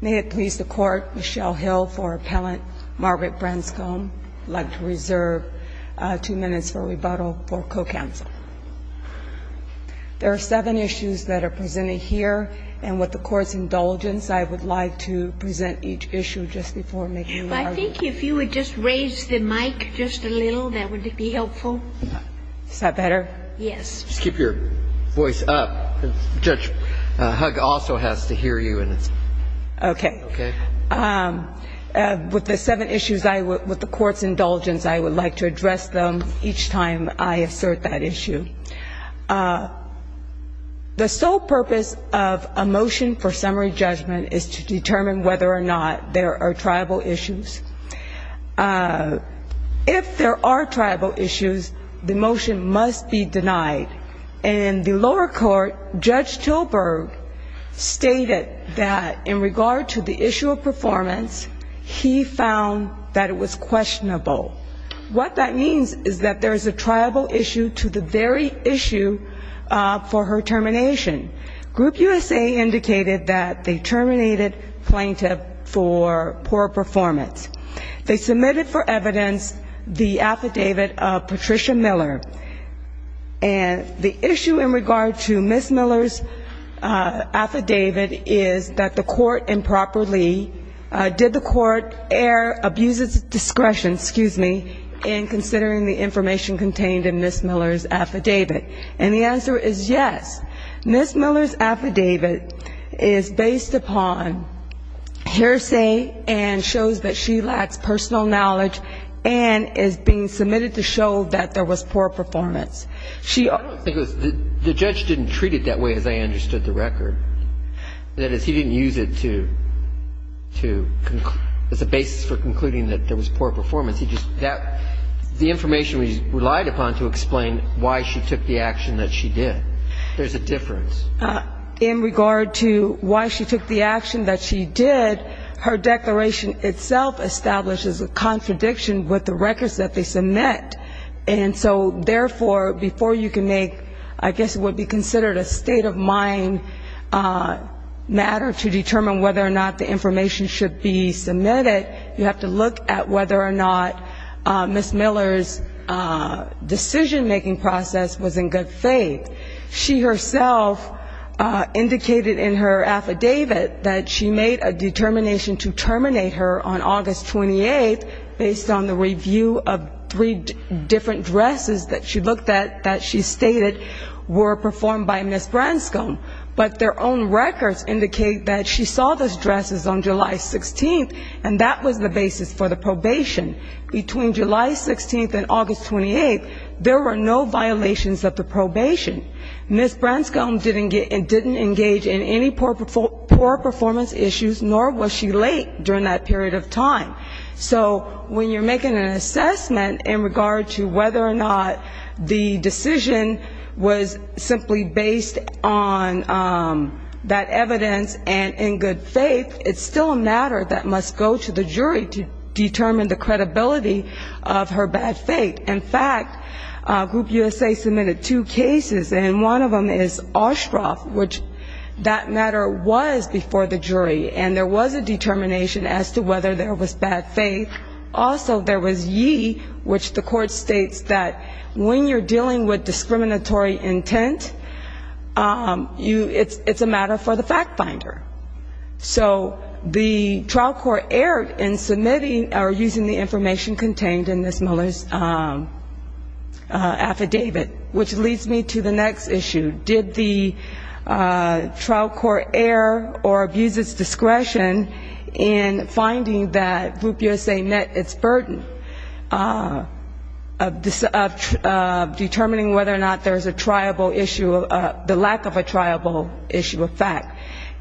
May it please the Court, Michelle Hill for appellant, Margaret Branscomb, I'd like to reserve two minutes for rebuttal for co-counsel. There are seven issues that are presented here, and with the Court's indulgence, I would like to present each issue just before making my argument. I think if you would just raise the mic just a little, that would be helpful. Is that better? Yes. Just keep your voice up, because Judge Hugg also has to hear you. Okay. Okay? With the seven issues, with the Court's indulgence, I would like to address them each time I assert that issue. The sole purpose of a motion for summary judgment is to determine whether or not there are tribal issues. If there are tribal issues, the motion must be denied. In the lower court, Judge Tilburg stated that in regard to the issue of performance, he found that it was questionable. What that means is that there is a tribal issue to the very issue for her termination. Group USA indicated that they terminated plaintiff for poor performance. They submitted for evidence the affidavit of Patricia Miller. And the issue in regard to Ms. Miller's affidavit is that the Court improperly did the Court err, abuse its discretion, excuse me, in considering the information contained in Ms. Miller's affidavit. And the answer is yes. Ms. Miller's affidavit is based upon hearsay and shows that she lacks personal knowledge and is being submitted to show that there was poor performance. I don't think it was, the judge didn't treat it that way as I understood the record. That is, he didn't use it to, as a basis for concluding that there was poor performance. The information we relied upon to explain why she took the action that she did. There's a difference. In regard to why she took the action that she did, her declaration itself establishes a contradiction with the records that they submit. And so, therefore, before you can make, I guess what would be considered a state of mind matter to determine whether or not the information should be submitted, you have to look at whether or not Ms. Miller's decision-making process was in good faith. She herself indicated in her affidavit that she made a determination to terminate her on August 28th based on the review of three different dresses that she looked at that she stated were performed by Ms. Branscombe. But their own records indicate that she saw those dresses on July 16th, and that was the basis for the probation. Between July 16th and August 28th, there were no violations of the probation. Ms. Branscombe didn't engage in any poor performance issues, nor was she late during that period of time. So when you're making an assessment in regard to whether or not the decision was simply based on Ms. Branscombe, and that evidence, and in good faith, it's still a matter that must go to the jury to determine the credibility of her bad faith. In fact, Group USA submitted two cases, and one of them is Oshkosh, which that matter was before the jury, and there was a determination as to whether there was bad faith. Also, there was Yee, which the court states that when you're dealing with discriminatory intent, you should not use that word. It's a matter for the fact finder. So the trial court erred in submitting or using the information contained in Ms. Mueller's affidavit, which leads me to the next issue. Did the trial court err or abuse its discretion in finding that Group USA met its burden of determining whether or not there was a triable issue, the lack of a triable issue of fact?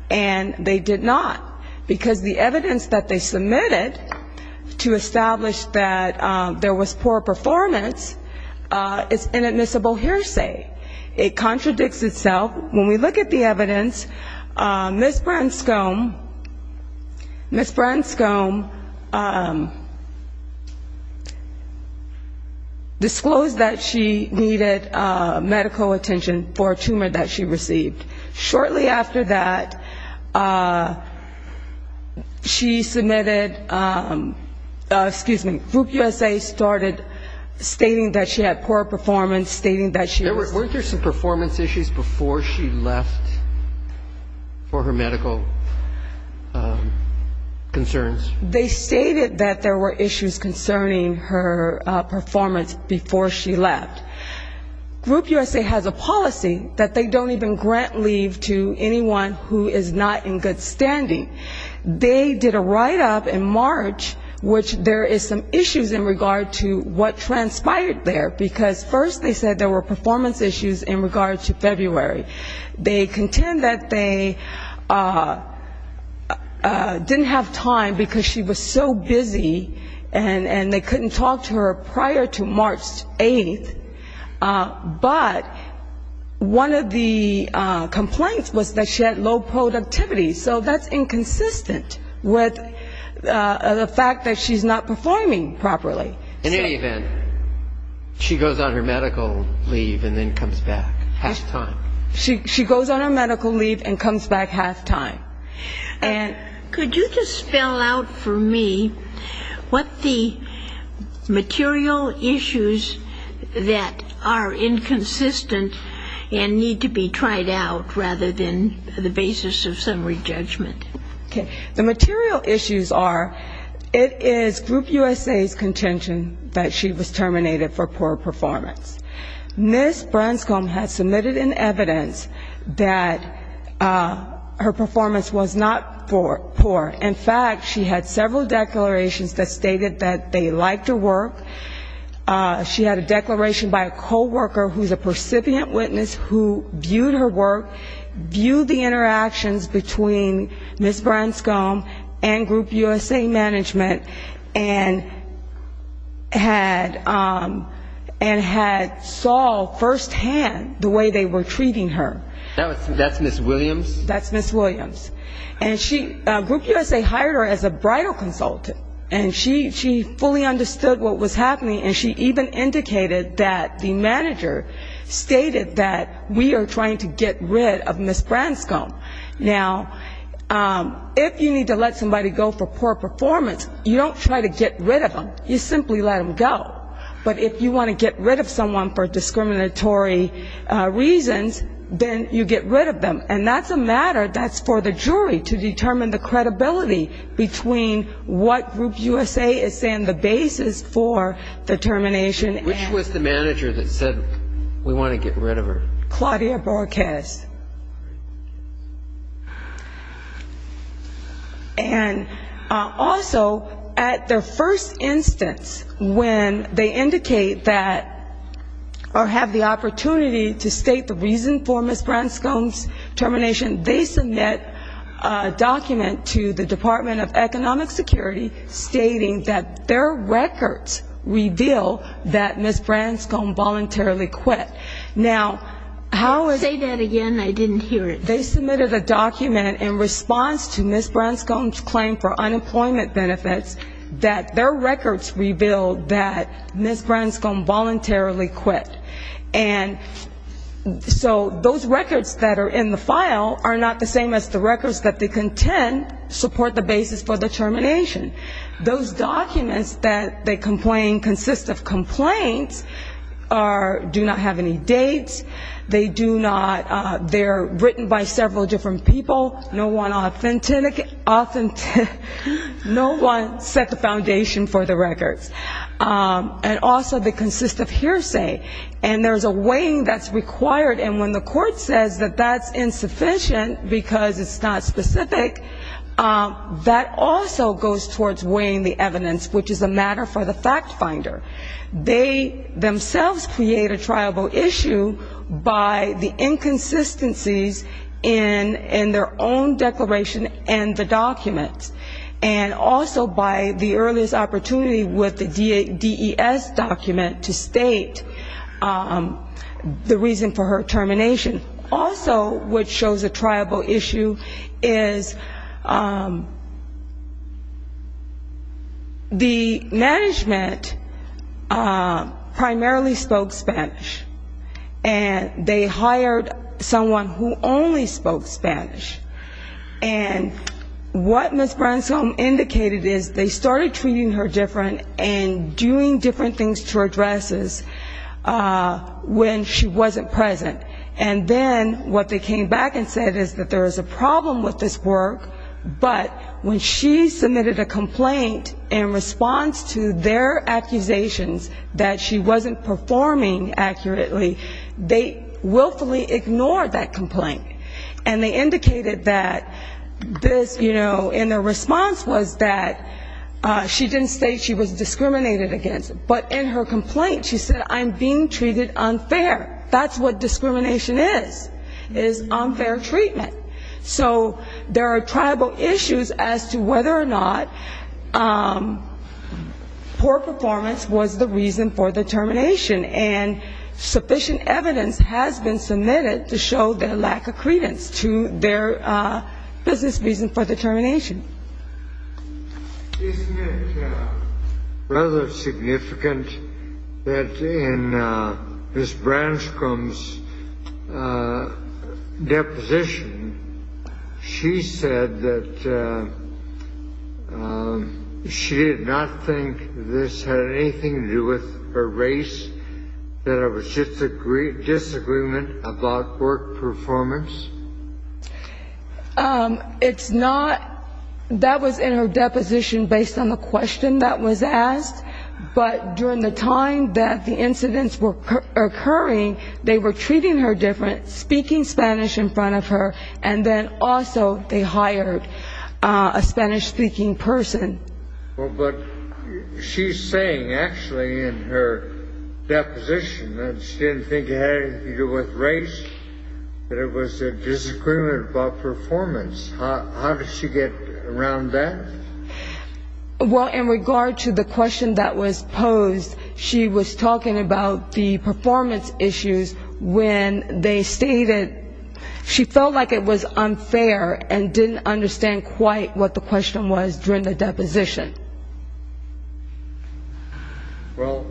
And they did not, because the evidence that they submitted to establish that there was poor performance is inadmissible hearsay. It contradicts itself. When we look at the evidence, Ms. Branscombe disclosed that she needed medical attention for a tumor that she received. Shortly after that, she submitted, excuse me, Group USA started stating that she had poor performance, stating that she was... There were, weren't there some performance issues before she left for her medical concerns? They stated that there were issues concerning her performance before she left. Group USA has a policy that states that if a patient has a performance issue, that they don't even grant leave to anyone who is not in good standing. They did a write-up in March, which there is some issues in regard to what transpired there, because first they said there were performance issues in regard to February. They contend that they didn't have time because she was so busy, and they couldn't talk to her prior to March 8th. But they did not have time to talk to her prior to March 8th. And one of the complaints was that she had low productivity. So that's inconsistent with the fact that she's not performing properly. In any event, she goes on her medical leave and then comes back half-time. She goes on her medical leave and comes back half-time. And... Could you just spell out for me what the material issues that are inconsistent and need to be tried out, rather than the basis of summary judgment? Okay. The material issues are, it is Group USA's contention that she was terminated for poor performance. Ms. Branscombe has said that her performance was not poor. In fact, she had several declarations that stated that they liked her work. She had a declaration by a co-worker who is a percipient witness who viewed her work, viewed the interactions between Ms. Branscombe and Group USA management, and had saw firsthand the way they were treating her. That's Ms. Williams? That's Ms. Williams. And she, Group USA hired her as a bridal consultant. And she fully understood what was happening, and she even indicated that the manager stated that we are trying to get rid of Ms. Branscombe. Now, if you need to let somebody go for poor performance, you don't try to get rid of them. You simply let them go. But if you want to get rid of someone for discriminatory reasons, then you get rid of them. And that's a matter that's for the jury to determine the credibility between what Group USA is saying the basis for the termination. Which was the manager that said we want to get rid of her? Claudia Borges. And also, at their first instance, when they indicate that, or have the opportunity to get rid of Ms. Branscombe, they submitted a document to the Department of Economic Security stating that their records reveal that Ms. Branscombe voluntarily quit. They submitted a document in response to Ms. Branscombe's claim for unemployment benefits that their records reveal that Ms. Branscombe voluntarily quit. And so those records that are in the file are not the same as the records that they contend support the basis for the termination. Those documents that they complain consist of complaints, do not have any dates, they're written by several different people, no one set the foundation for the records. And also they consist of hearsay. And there's a weighing that's required, and when the court says that that's insufficient, because it's not specific, that also goes towards weighing the evidence, which is a matter for the fact finder. They themselves create a triable issue by the inconsistencies in their own declaration and the documents. And also by the earliest opportunity with the DES document to state the reason for her termination. Also what shows a triable issue is the management primarily spoke Spanish, and they hired someone who only spoke Spanish. And what Ms. Branscombe indicated is they started treating her different and doing different things to her dresses when she wasn't present. And then what they came back and said is that there is a problem with this work, but when she submitted a complaint in response to their accusations that she wasn't performing accurately, they willfully ignored that complaint. And they indicated that this, you know, in their response was that she didn't state she was discriminated against, but in her complaint she said I'm being treated unfair. That's what discrimination is, is unfair treatment. So there are triable issues as to whether or not poor performance was the reason for the termination. And sufficient evidence has been submitted to show their lack of credence to their business reason for the termination. Isn't it rather significant that in Ms. Branscombe's deposition she said that she did not think this had anything to do with her race, that it was just a disagreement about work performance? It's not. That was in her deposition based on the question that was asked. But during the time that the incidents were occurring, they were treating her different, speaking Spanish in front of her, and then also they hired a Spanish-speaking person. Well, but she's saying actually in her deposition that she didn't think it had anything to do with race, that it was a disagreement about performance. How does she get around that? Well, in regard to the question that was posed, she was talking about the performance issues when they stated she felt like it was a disagreement about work performance during the deposition. Well,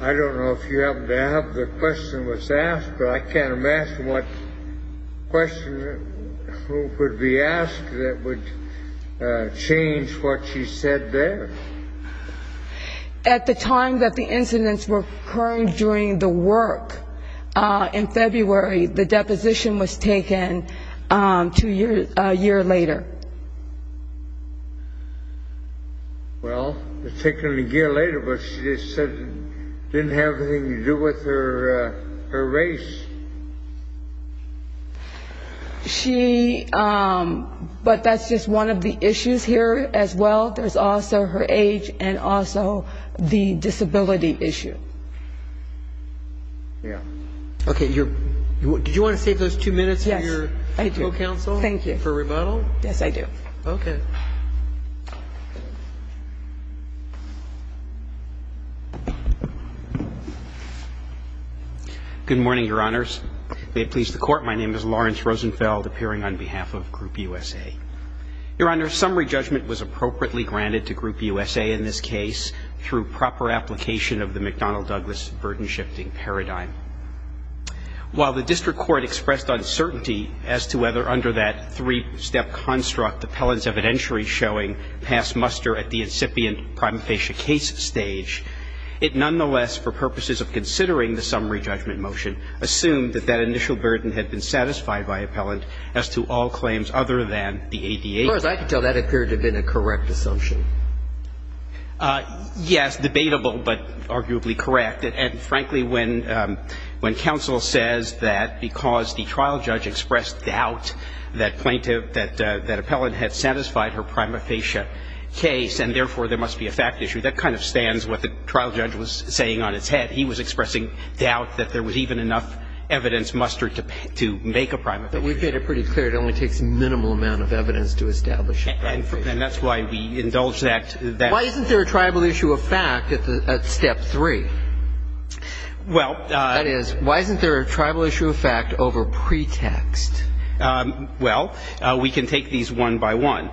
I don't know if you happen to have the question that was asked, but I can't imagine what question would be asked that would change what she said there. At the time that the incidents were occurring during the work in February, the deposition was taken a year later. Well, it was taken a year later, but she just said it didn't have anything to do with her race. She, but that's just one of the issues here as well. There's also her age and also the disability issue. Yeah. Okay. Did you want to save those two minutes for your counsel for rebuttal? Yes, I do. Good morning, Your Honors. May it please the Court, my name is Lawrence Rosenfeld, appearing on behalf of Group USA. Your Honor, summary judgment was appropriately granted to Group USA in this case through proper application of the McDonnell-Douglas burden-shifting paradigm. While the district court expressed uncertainty as to whether under that three-step construct appellant's evidentiary showing passed muster at the incipient prima facie case stage, it nonetheless, for purposes of considering the summary judgment motion, assumed that that initial burden had been satisfied by appellant as to all claims other than the ADA. Of course, I can tell that appeared to have been a correct assumption. Yes, debatable, but arguably correct. And frankly, when counsel says that because the trial judge expressed doubt that plaintiff, that appellant had satisfied her prima facie case, and therefore there must be a fact issue, that kind of stands what the trial judge was saying on its head. He was expressing doubt that there was even enough evidence mustered to make a prima facie case. But we've made it pretty clear it only takes a minimal amount of evidence to establish a prima facie case. And that's why we indulge that. Why isn't there a tribal issue of fact at step three? That is, why isn't there a tribal issue of fact over pretext? Well, we can take these one by one.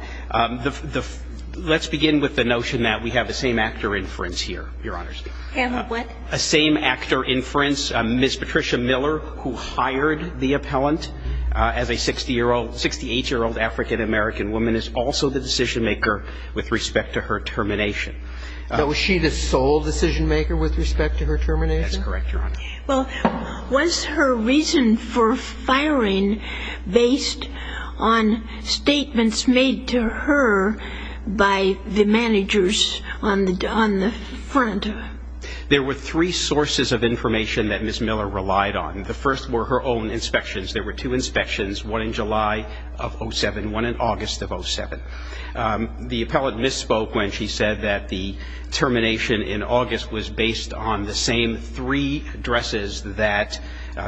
Let's begin with the notion that we have the same actor inference here, Your Honor. A same actor inference. Ms. Patricia Miller, who hired the appellant as a 68-year-old African-American woman, is also a decision-maker with respect to her termination. Was she the sole decision-maker with respect to her termination? That's correct, Your Honor. Well, was her reason for firing based on statements made to her by the managers on the front? There were three sources of information that Ms. Miller relied on. The first were her own inspections. There were two sources of information that Ms. Miller relied on. The appellant misspoke when she said that the termination in August was based on the same three dresses that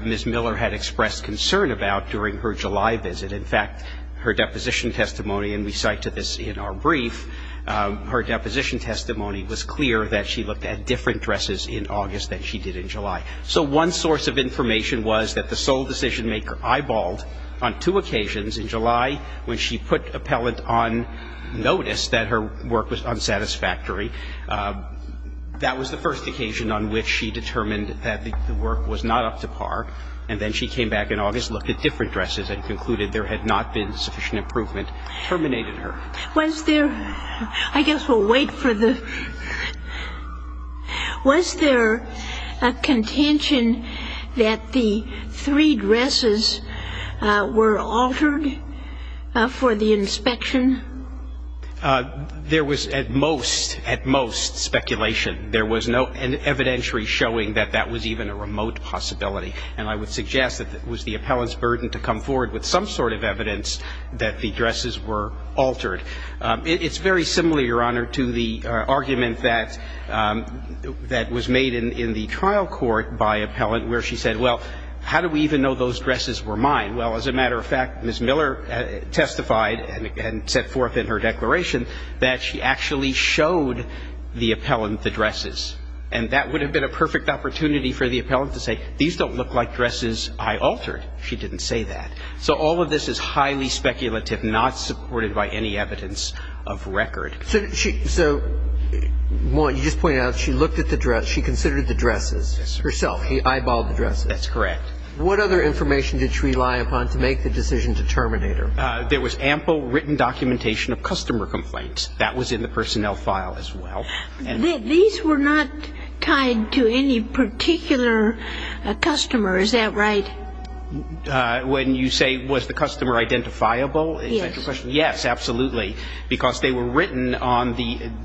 Ms. Miller had expressed concern about during her July visit. In fact, her deposition testimony, and we cite to this in our brief, her deposition testimony was clear that she looked at different dresses in August than she did in July. So one source of information was that the sole decision-maker eyeballed on two occasions in July when she put appellant on the same three dresses. And when the appellant noticed that her work was unsatisfactory, that was the first occasion on which she determined that the work was not up to par. And then she came back in August, looked at different dresses, and concluded there had not been sufficient improvement, terminated her. Was there, I guess we'll wait for the, was there a contention that the three dresses were altered for the inspection? There was at most, at most speculation. There was no evidentiary showing that that was even a remote possibility. And I would suggest that it was the appellant's burden to come forward with some sort of evidence that the dresses were altered. It's very similar, Your Honor, to the argument that was made in the trial court by appellant where she said, well, how do we even know those dresses were mine? Well, as a matter of fact, Ms. Miller testified and set forth in her declaration that she actually showed the appellant the dresses. And that would have been a perfect opportunity for the appellant to say, these don't look like dresses I altered. She didn't say that. So all of this is highly speculative, not supported by any evidence of record. So, so, Maude, you just pointed out she looked at the dress, she considered the dresses herself. She eyeballed the dresses. That's correct. What other information did she rely upon to make the decision to terminate her? There was ample written documentation of customer complaints. That was in the personnel file as well. These were not tied to any particular customer, is that right? When you say, was the customer identifiable, is that your question? Yes. Yes, absolutely. Because they were written on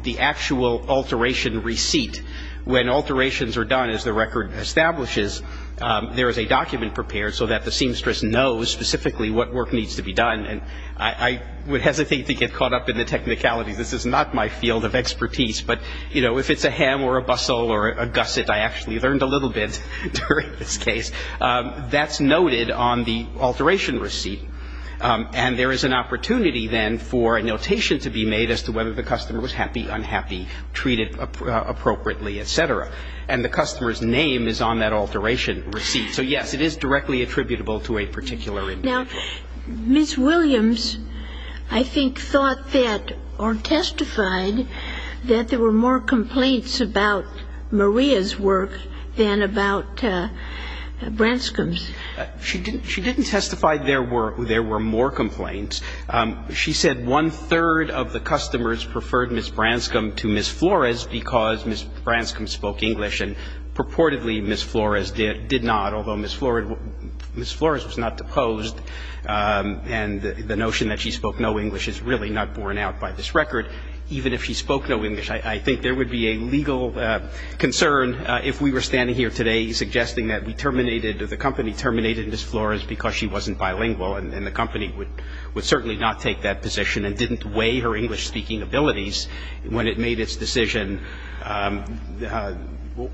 the actual alteration receipt. When alterations are done, as the record establishes, there is a document prepared so that the seamstress knows specifically what work needs to be done. And I would hesitate to get caught up in the technicalities. This is not my field of expertise. But, you know, if it's a hem or a bustle or a gusset, I actually learned a little bit during this case, that's noted on the alteration receipt. And there is an opportunity, then, for a notation to be made as to whether the customer was happy, unhappy, treated appropriately, et cetera. And the customer's name is on that alteration receipt. So, yes, it is directly attributable to a particular individual. Now, Ms. Williams, I think, thought that or testified that there were more complaints about Maria's work than about Branscom's. She didn't testify there were more complaints. She said one-third of the customers preferred Ms. Branscom to Ms. Flores because Ms. Branscom spoke English, and purportedly Ms. Flores did not, although Ms. Flores was not deposed. And the notion that she spoke no English is really not borne out by this record. Even if she spoke no English, I think there would be a legal concern if we were standing here today suggesting that we terminated or the company terminated Ms. Flores because she wasn't bilingual and the company would certainly not take that position and didn't weigh her English-speaking abilities when it made its decision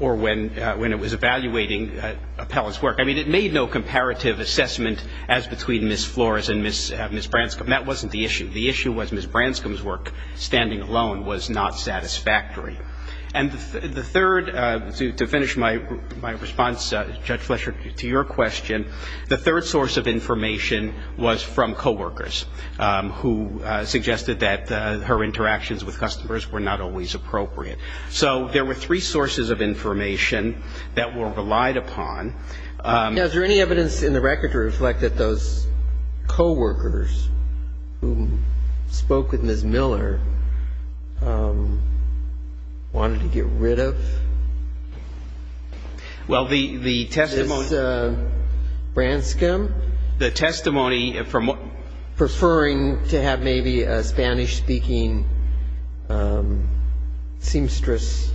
or when it was evaluating Appellant's work. I mean, it made no comparative assessment as between Ms. Flores and Ms. Branscom. That wasn't the issue. The issue was Ms. Branscom's work standing alone was not satisfactory. And the third, to finish my response, Judge Fletcher, to your question, the third source of information was from co-workers who suggested that her interactions with customers were not always appropriate. So there were three sources of information that were relied upon. Now, is there any evidence in the record to reflect that those co-workers who spoke with Ms. Miller, wanted to get rid of Ms. Branscom, preferring to have maybe a Spanish-speaking seamstress?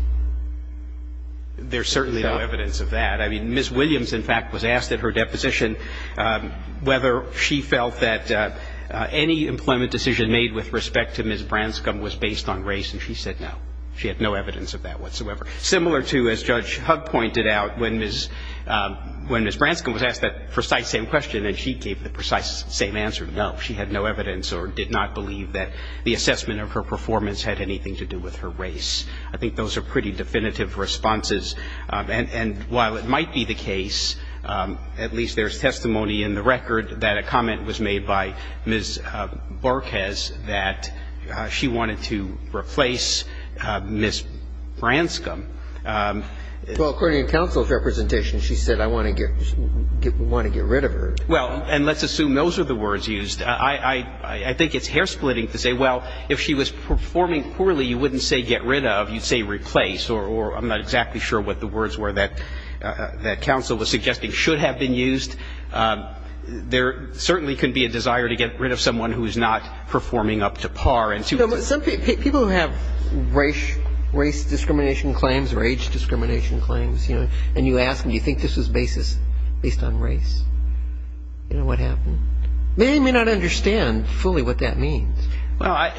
There's certainly no evidence of that. I mean, Ms. Williams, in fact, was asked at her deposition whether she felt that any employment decision made with respect to Ms. Branscom was based on race, and she said no. She had no evidence of that whatsoever. Similar to, as Judge Hugg pointed out, when Ms. Branscom was asked that precise same question and she gave the precise same answer, no, she had no evidence or did not believe that the assessment of her performance had anything to do with her race. I think those are pretty definitive responses. And while it might be the case, at least there's testimony in the record that a comment was made by Ms. Barquez that she wanted to replace Ms. Branscom. Well, according to counsel's representation, she said, I want to get rid of her. Well, and let's assume those are the words used. I think it's hair-splitting to say, well, if she was performing poorly, you wouldn't say get rid of. You'd say replace, or I'm not exactly sure what the words were that counsel was suggesting should have been used. There certainly could be a desire to get rid of someone who is not performing up to par. People who have race discrimination claims or age discrimination claims, and you ask them, do you think this was based on race? Do you know what happened? They may not understand fully what that means. Well,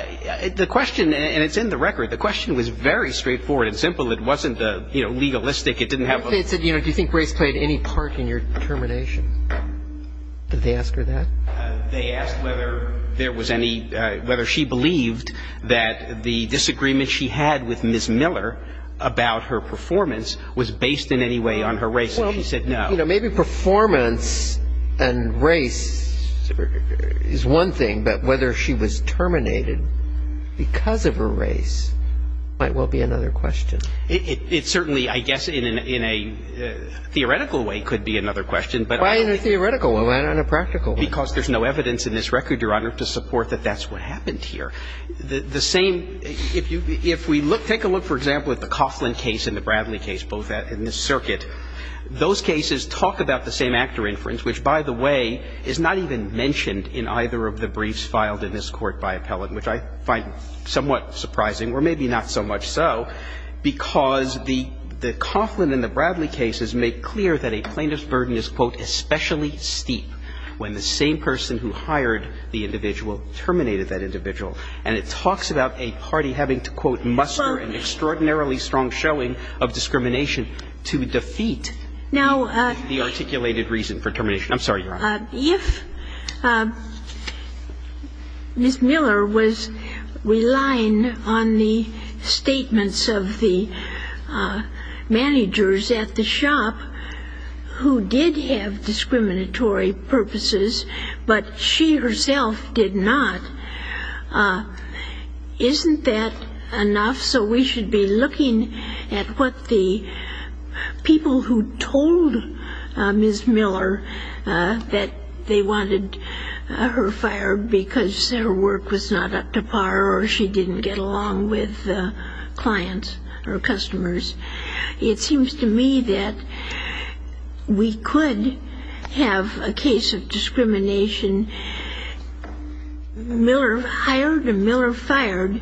the question, and it's in the record, the question was very straightforward and simple. It wasn't legalistic. Do you think race played any part in your determination? Did they ask her that? They asked whether there was any, whether she believed that the disagreement she had with Ms. Miller about her performance was based in any way on her race, and she said no. Well, you know, maybe performance and race is one thing, but whether she was terminated because of her race might well be another question. It certainly, I guess, in a theoretical way, could be another question. Why in a theoretical way? Why not in a practical way? Because there's no evidence in this record, Your Honor, to support that that's what happened here. The same, if we look, take a look, for example, at the Coughlin case and the Bradley case, both in this circuit. Those cases talk about the same actor inference, which, by the way, is not even mentioned in either of the briefs filed in this Court by appellate, which I find somewhat surprising, or maybe not so much so, because the Coughlin and the Bradley cases make clear that a plaintiff's burden is, quote, especially steep when the same person who hired the individual terminated that individual. And it talks about a party having to, quote, muster an extraordinarily strong showing of discrimination to defeat the articulated reason for termination. I'm sorry, Your Honor. If Ms. Miller was relying on the statements of the managers at the shop who did have discriminatory purposes but she herself did not, isn't that enough? So we should be looking at what the people who told Ms. Miller that they wanted her fired because her work was not up to par or she didn't get along with clients or customers. It seems to me that we could have a case of discrimination. Miller hired and Miller fired,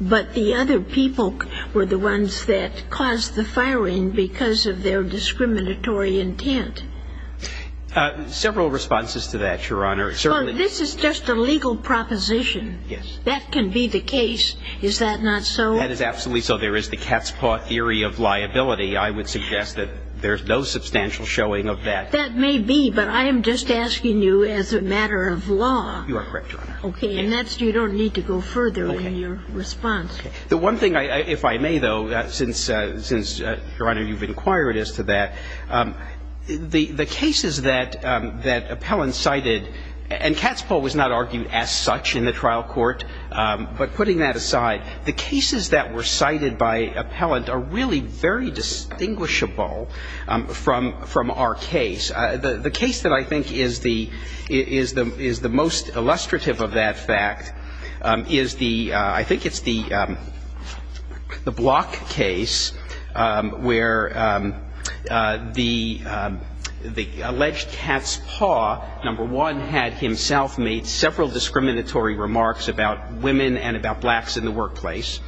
but the other people were the ones that caused the firing because of their discriminatory intent. Several responses to that, Your Honor. Well, this is just a legal proposition. Yes. That can be the case. Is that not so? That is absolutely so. There is the cat's paw theory of liability. I would suggest that there's no substantial showing of that. That may be, but I am just asking you as a matter of law. You are correct, Your Honor. Okay. And you don't need to go further in your response. The one thing, if I may, though, since, Your Honor, you've inquired as to that, the cases that appellants cited and cat's paw was not argued as such in the trial court, but putting that aside, the cases that were cited by appellant are really very distinguishable from our case. The case that I think is the most illustrative of that fact is the, I think it's the Block case, where the alleged cat's paw, number one, had himself made several discriminatory remarks about women and about blacks in the workplace.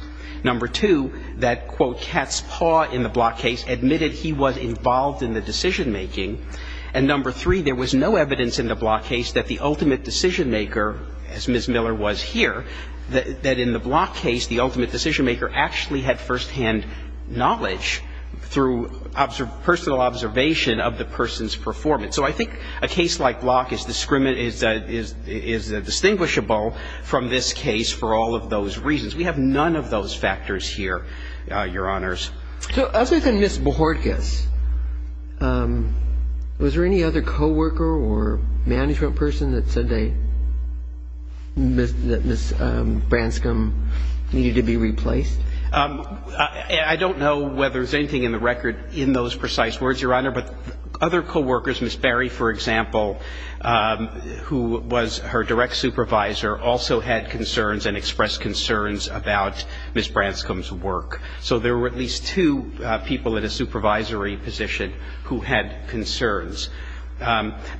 Number two, that, quote, cat's paw in the Block case admitted he was involved in the decision-making. And number three, there was no evidence in the Block case that the ultimate decision-maker, as Ms. Miller was here, that in the Block case, the ultimate decision-maker actually had firsthand knowledge through personal observation of the person's performance. So I think a case like Block is distinguishable from this case for all of those reasons. We have none of those factors here, Your Honors. So other than Ms. Bohorkas, was there any other coworker or management person that said that Ms. Branscom needed to be replaced? I don't know whether there's anything in the record in those precise words, Your Honor, but other coworkers, Ms. Barry, for example, who was her direct supervisor, also had concerns and expressed concerns about Ms. Branscom's work. So there were at least two people at a supervisory position who had concerns.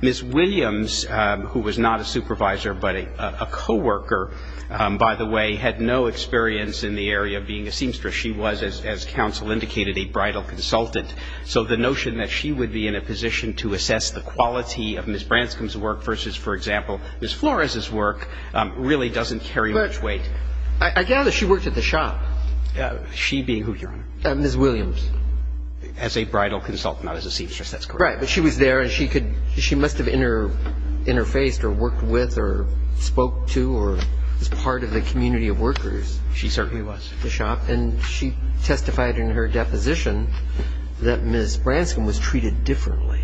Ms. Williams, who was not a supervisor but a coworker, by the way, had no experience in the area of being a seamstress. She was, as counsel indicated, a bridal consultant. So the notion that she would be in a position to assess the quality of Ms. Branscom's work versus, for example, Ms. Flores' work really doesn't carry much weight. But I gather she worked at the shop. She being who, Your Honor? Ms. Williams. As a bridal consultant, not as a seamstress. That's correct. Right. But she was there and she could – she must have interfaced or worked with or spoke to or was part of the community of workers. She certainly was. And she testified in her deposition that Ms. Branscom was treated differently.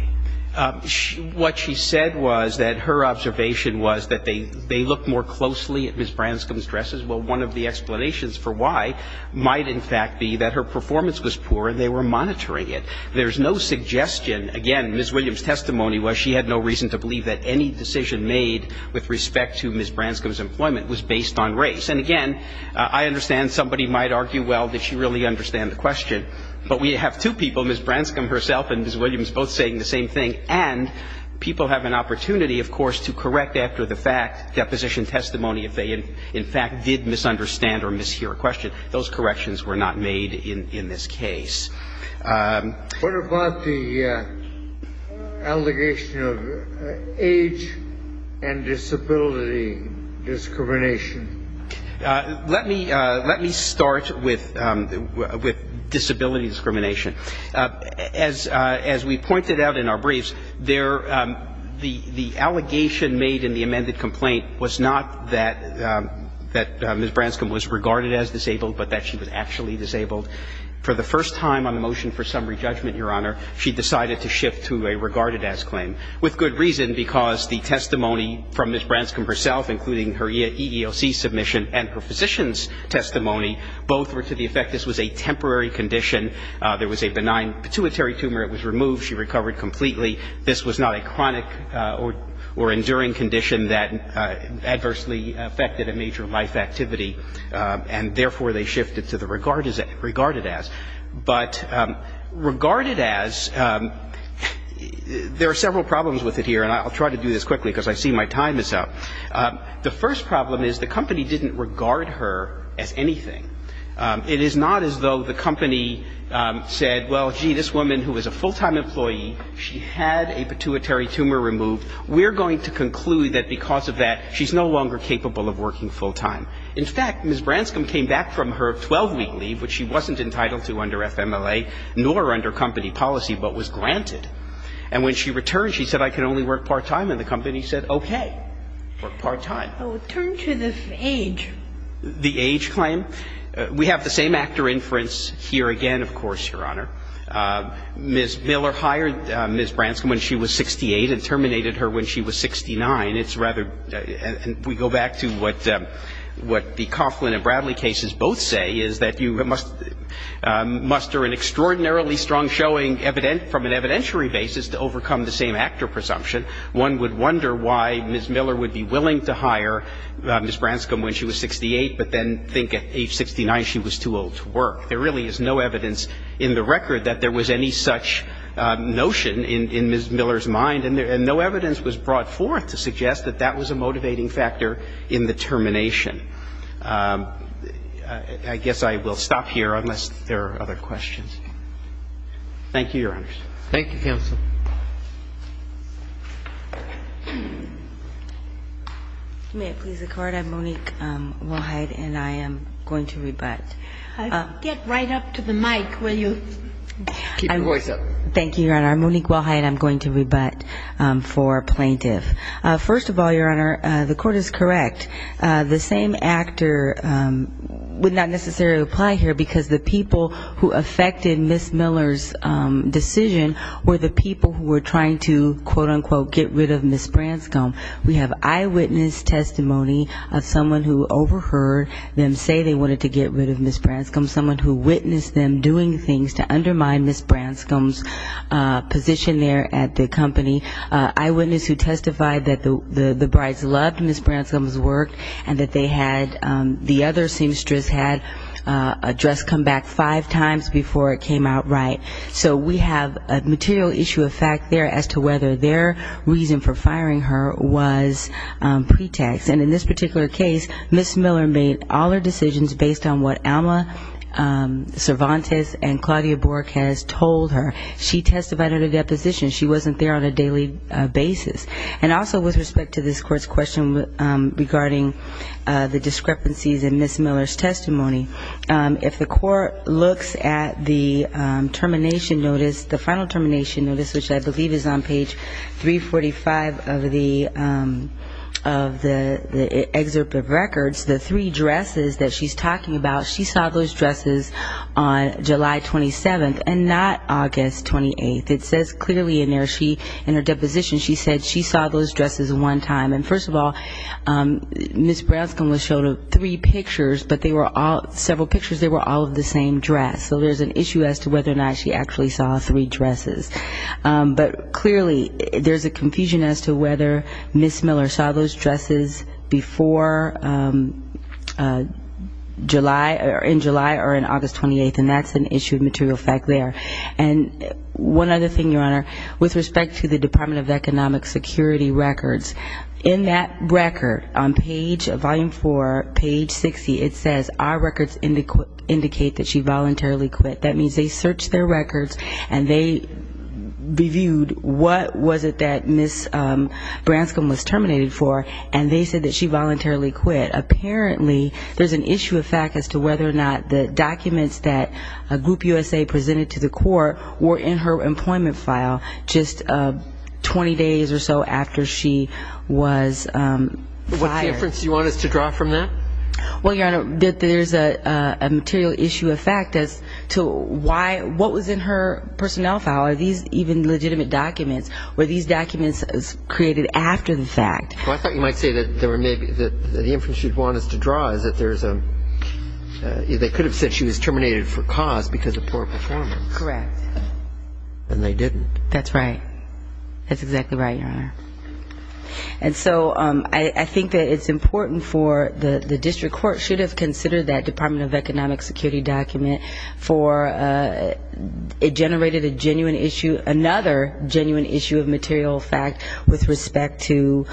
What she said was that her observation was that they looked more closely at Ms. Branscom's dresses. Well, one of the explanations for why might, in fact, be that her performance was poor and they were monitoring it. There's no suggestion – again, Ms. Williams' testimony was she had no reason to believe that any decision made with respect to Ms. Branscom's employment was based on race. And, again, I understand somebody might argue, well, did she really understand the question? But we have two people, Ms. Branscom herself and Ms. Williams, both saying the same thing. And people have an opportunity, of course, to correct after the fact, deposition testimony, if they, in fact, did misunderstand or mishear a question. Those corrections were not made in this case. What about the allegation of age and disability discrimination? Let me start with disability discrimination. As we pointed out in our briefs, the allegation made in the amended complaint was not that Ms. Branscom was regarded as disabled, but that she was actually disabled. For the first time on the motion for summary judgment, Your Honor, she decided to shift to a regarded as claim, with good reason, because the testimony from Ms. Branscom herself, including her EEOC submission and her physician's testimony, both were to the effect this was a temporary condition. There was a benign pituitary tumor. It was removed. She recovered completely. This was not a chronic or enduring condition that adversely affected a major life activity. And, therefore, they shifted to the regarded as. But regarded as, there are several problems with it here, and I'll try to do this quickly because I see my time is up. The first problem is the company didn't regard her as anything. It is not as though the company said, well, gee, this woman who was a full-time employee, she had a pituitary tumor removed. We're going to conclude that because of that, she's no longer capable of working full-time. In fact, Ms. Branscom came back from her 12-week leave, which she wasn't entitled to under FMLA, nor under company policy, but was granted. And when she returned, she said, I can only work part-time. And the company said, okay, work part-time. Turn to the age. The age claim. We have the same actor inference here again, of course, Your Honor. Ms. Miller hired Ms. Branscom when she was 68 and terminated her when she was 69. It's rather we go back to what the Coughlin and Bradley cases both say is that you must muster an extraordinarily strong showing evident from an evidentiary basis to overcome the same actor presumption. One would wonder why Ms. Miller would be willing to hire Ms. Branscom when she was 68, but then think at age 69 she was too old to work. There really is no evidence in the record that there was any such notion in Ms. Miller's mind, and no evidence was brought forth to suggest that that was a motivating factor in the termination. I guess I will stop here unless there are other questions. Thank you, Your Honors. Thank you, counsel. May it please the Court. I'm Monique Wilhite, and I am going to rebut. Get right up to the mic, will you? Keep your voice up. Thank you, Your Honor. I'm Monique Wilhite. I'm going to rebut for plaintiff. First of all, Your Honor, the Court is correct. The same actor would not necessarily apply here because the people who affected Ms. Miller's decision were the people who were trying to, quote, unquote, get rid of Ms. Branscom. We have eyewitness testimony of someone who overheard them say they wanted to get rid of Ms. Branscom, someone who witnessed them doing things to undermine Ms. Branscom's position there at the company, eyewitness who testified that the brides loved Ms. Branscom's work, and that the other seamstress had a dress come back five times before it came out right. So we have a material issue of fact there as to whether their reason for firing her was pretext. And in this particular case, Ms. Miller made all her decisions based on what Alma Cervantes and Claudia Bork has told her. She testified at a deposition. She wasn't there on a daily basis. And also with respect to this Court's question regarding the discrepancies in Ms. Miller's testimony, if the Court looks at the termination notice, the final termination notice, which I believe is on page 345 of the excerpt of records, the three dresses that she's talking about, she saw those dresses on July 27th, and not August 28th. It says clearly in there, she, in her deposition, she said she saw those dresses one time. And first of all, Ms. Branscom was shown three pictures, but they were all, several pictures, they were all of the same dress. So there's an issue as to whether or not she actually saw three dresses. But clearly, there's a confusion as to whether Ms. Miller saw those dresses before July, in July or in August 28th. And that's an issue of material fact there. And one other thing, Your Honor, with respect to the Department of Economic Security records, in that record, on page, volume 4, page 60, it says our records indicate that she voluntarily quit. That means they searched their records, and they reviewed what was it that Ms. Branscom was terminated for, and they said that she voluntarily quit. Apparently, there's an issue of fact as to whether or not the documents that Group USA presented to the Court were in her What's the inference you want us to draw from that? Well, Your Honor, there's a material issue of fact as to why, what was in her personnel file, are these even legitimate documents, were these documents created after the fact? Well, I thought you might say that the inference you'd want us to draw is that there's a, they could have said she was terminated for cause because of poor performance. Correct. And they didn't. That's right. That's exactly right, Your Honor. And so I think that it's important for the district court should have considered that Department of Economic Security document for it generated a genuine issue, another genuine issue of material fact with respect to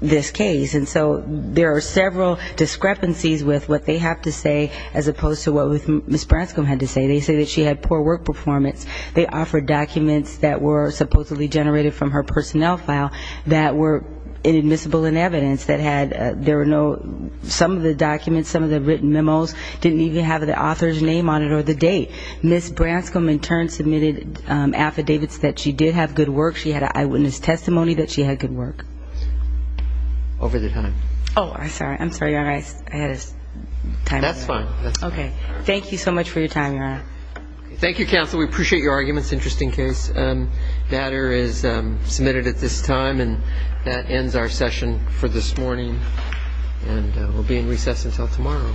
this case. And so there are several discrepancies with what they have to say as opposed to what Ms. Branscom had to say. They say that she had poor work performance. They offered documents that were supposedly generated from her personnel file that were inadmissible in evidence, that had, there were no, some of the documents, some of the written memos didn't even have the author's name on it or the date. Ms. Branscom in turn submitted affidavits that she did have good work. She had an eyewitness testimony that she had good work. Over the time. Oh, I'm sorry. I'm sorry, Your Honor. I had a time out. That's fine. That's fine. Okay. Thank you so much for your time, Your Honor. Thank you, counsel. We appreciate your arguments. Interesting case. The matter is submitted at this time and that ends our session for this morning. And we'll be in recess until tomorrow.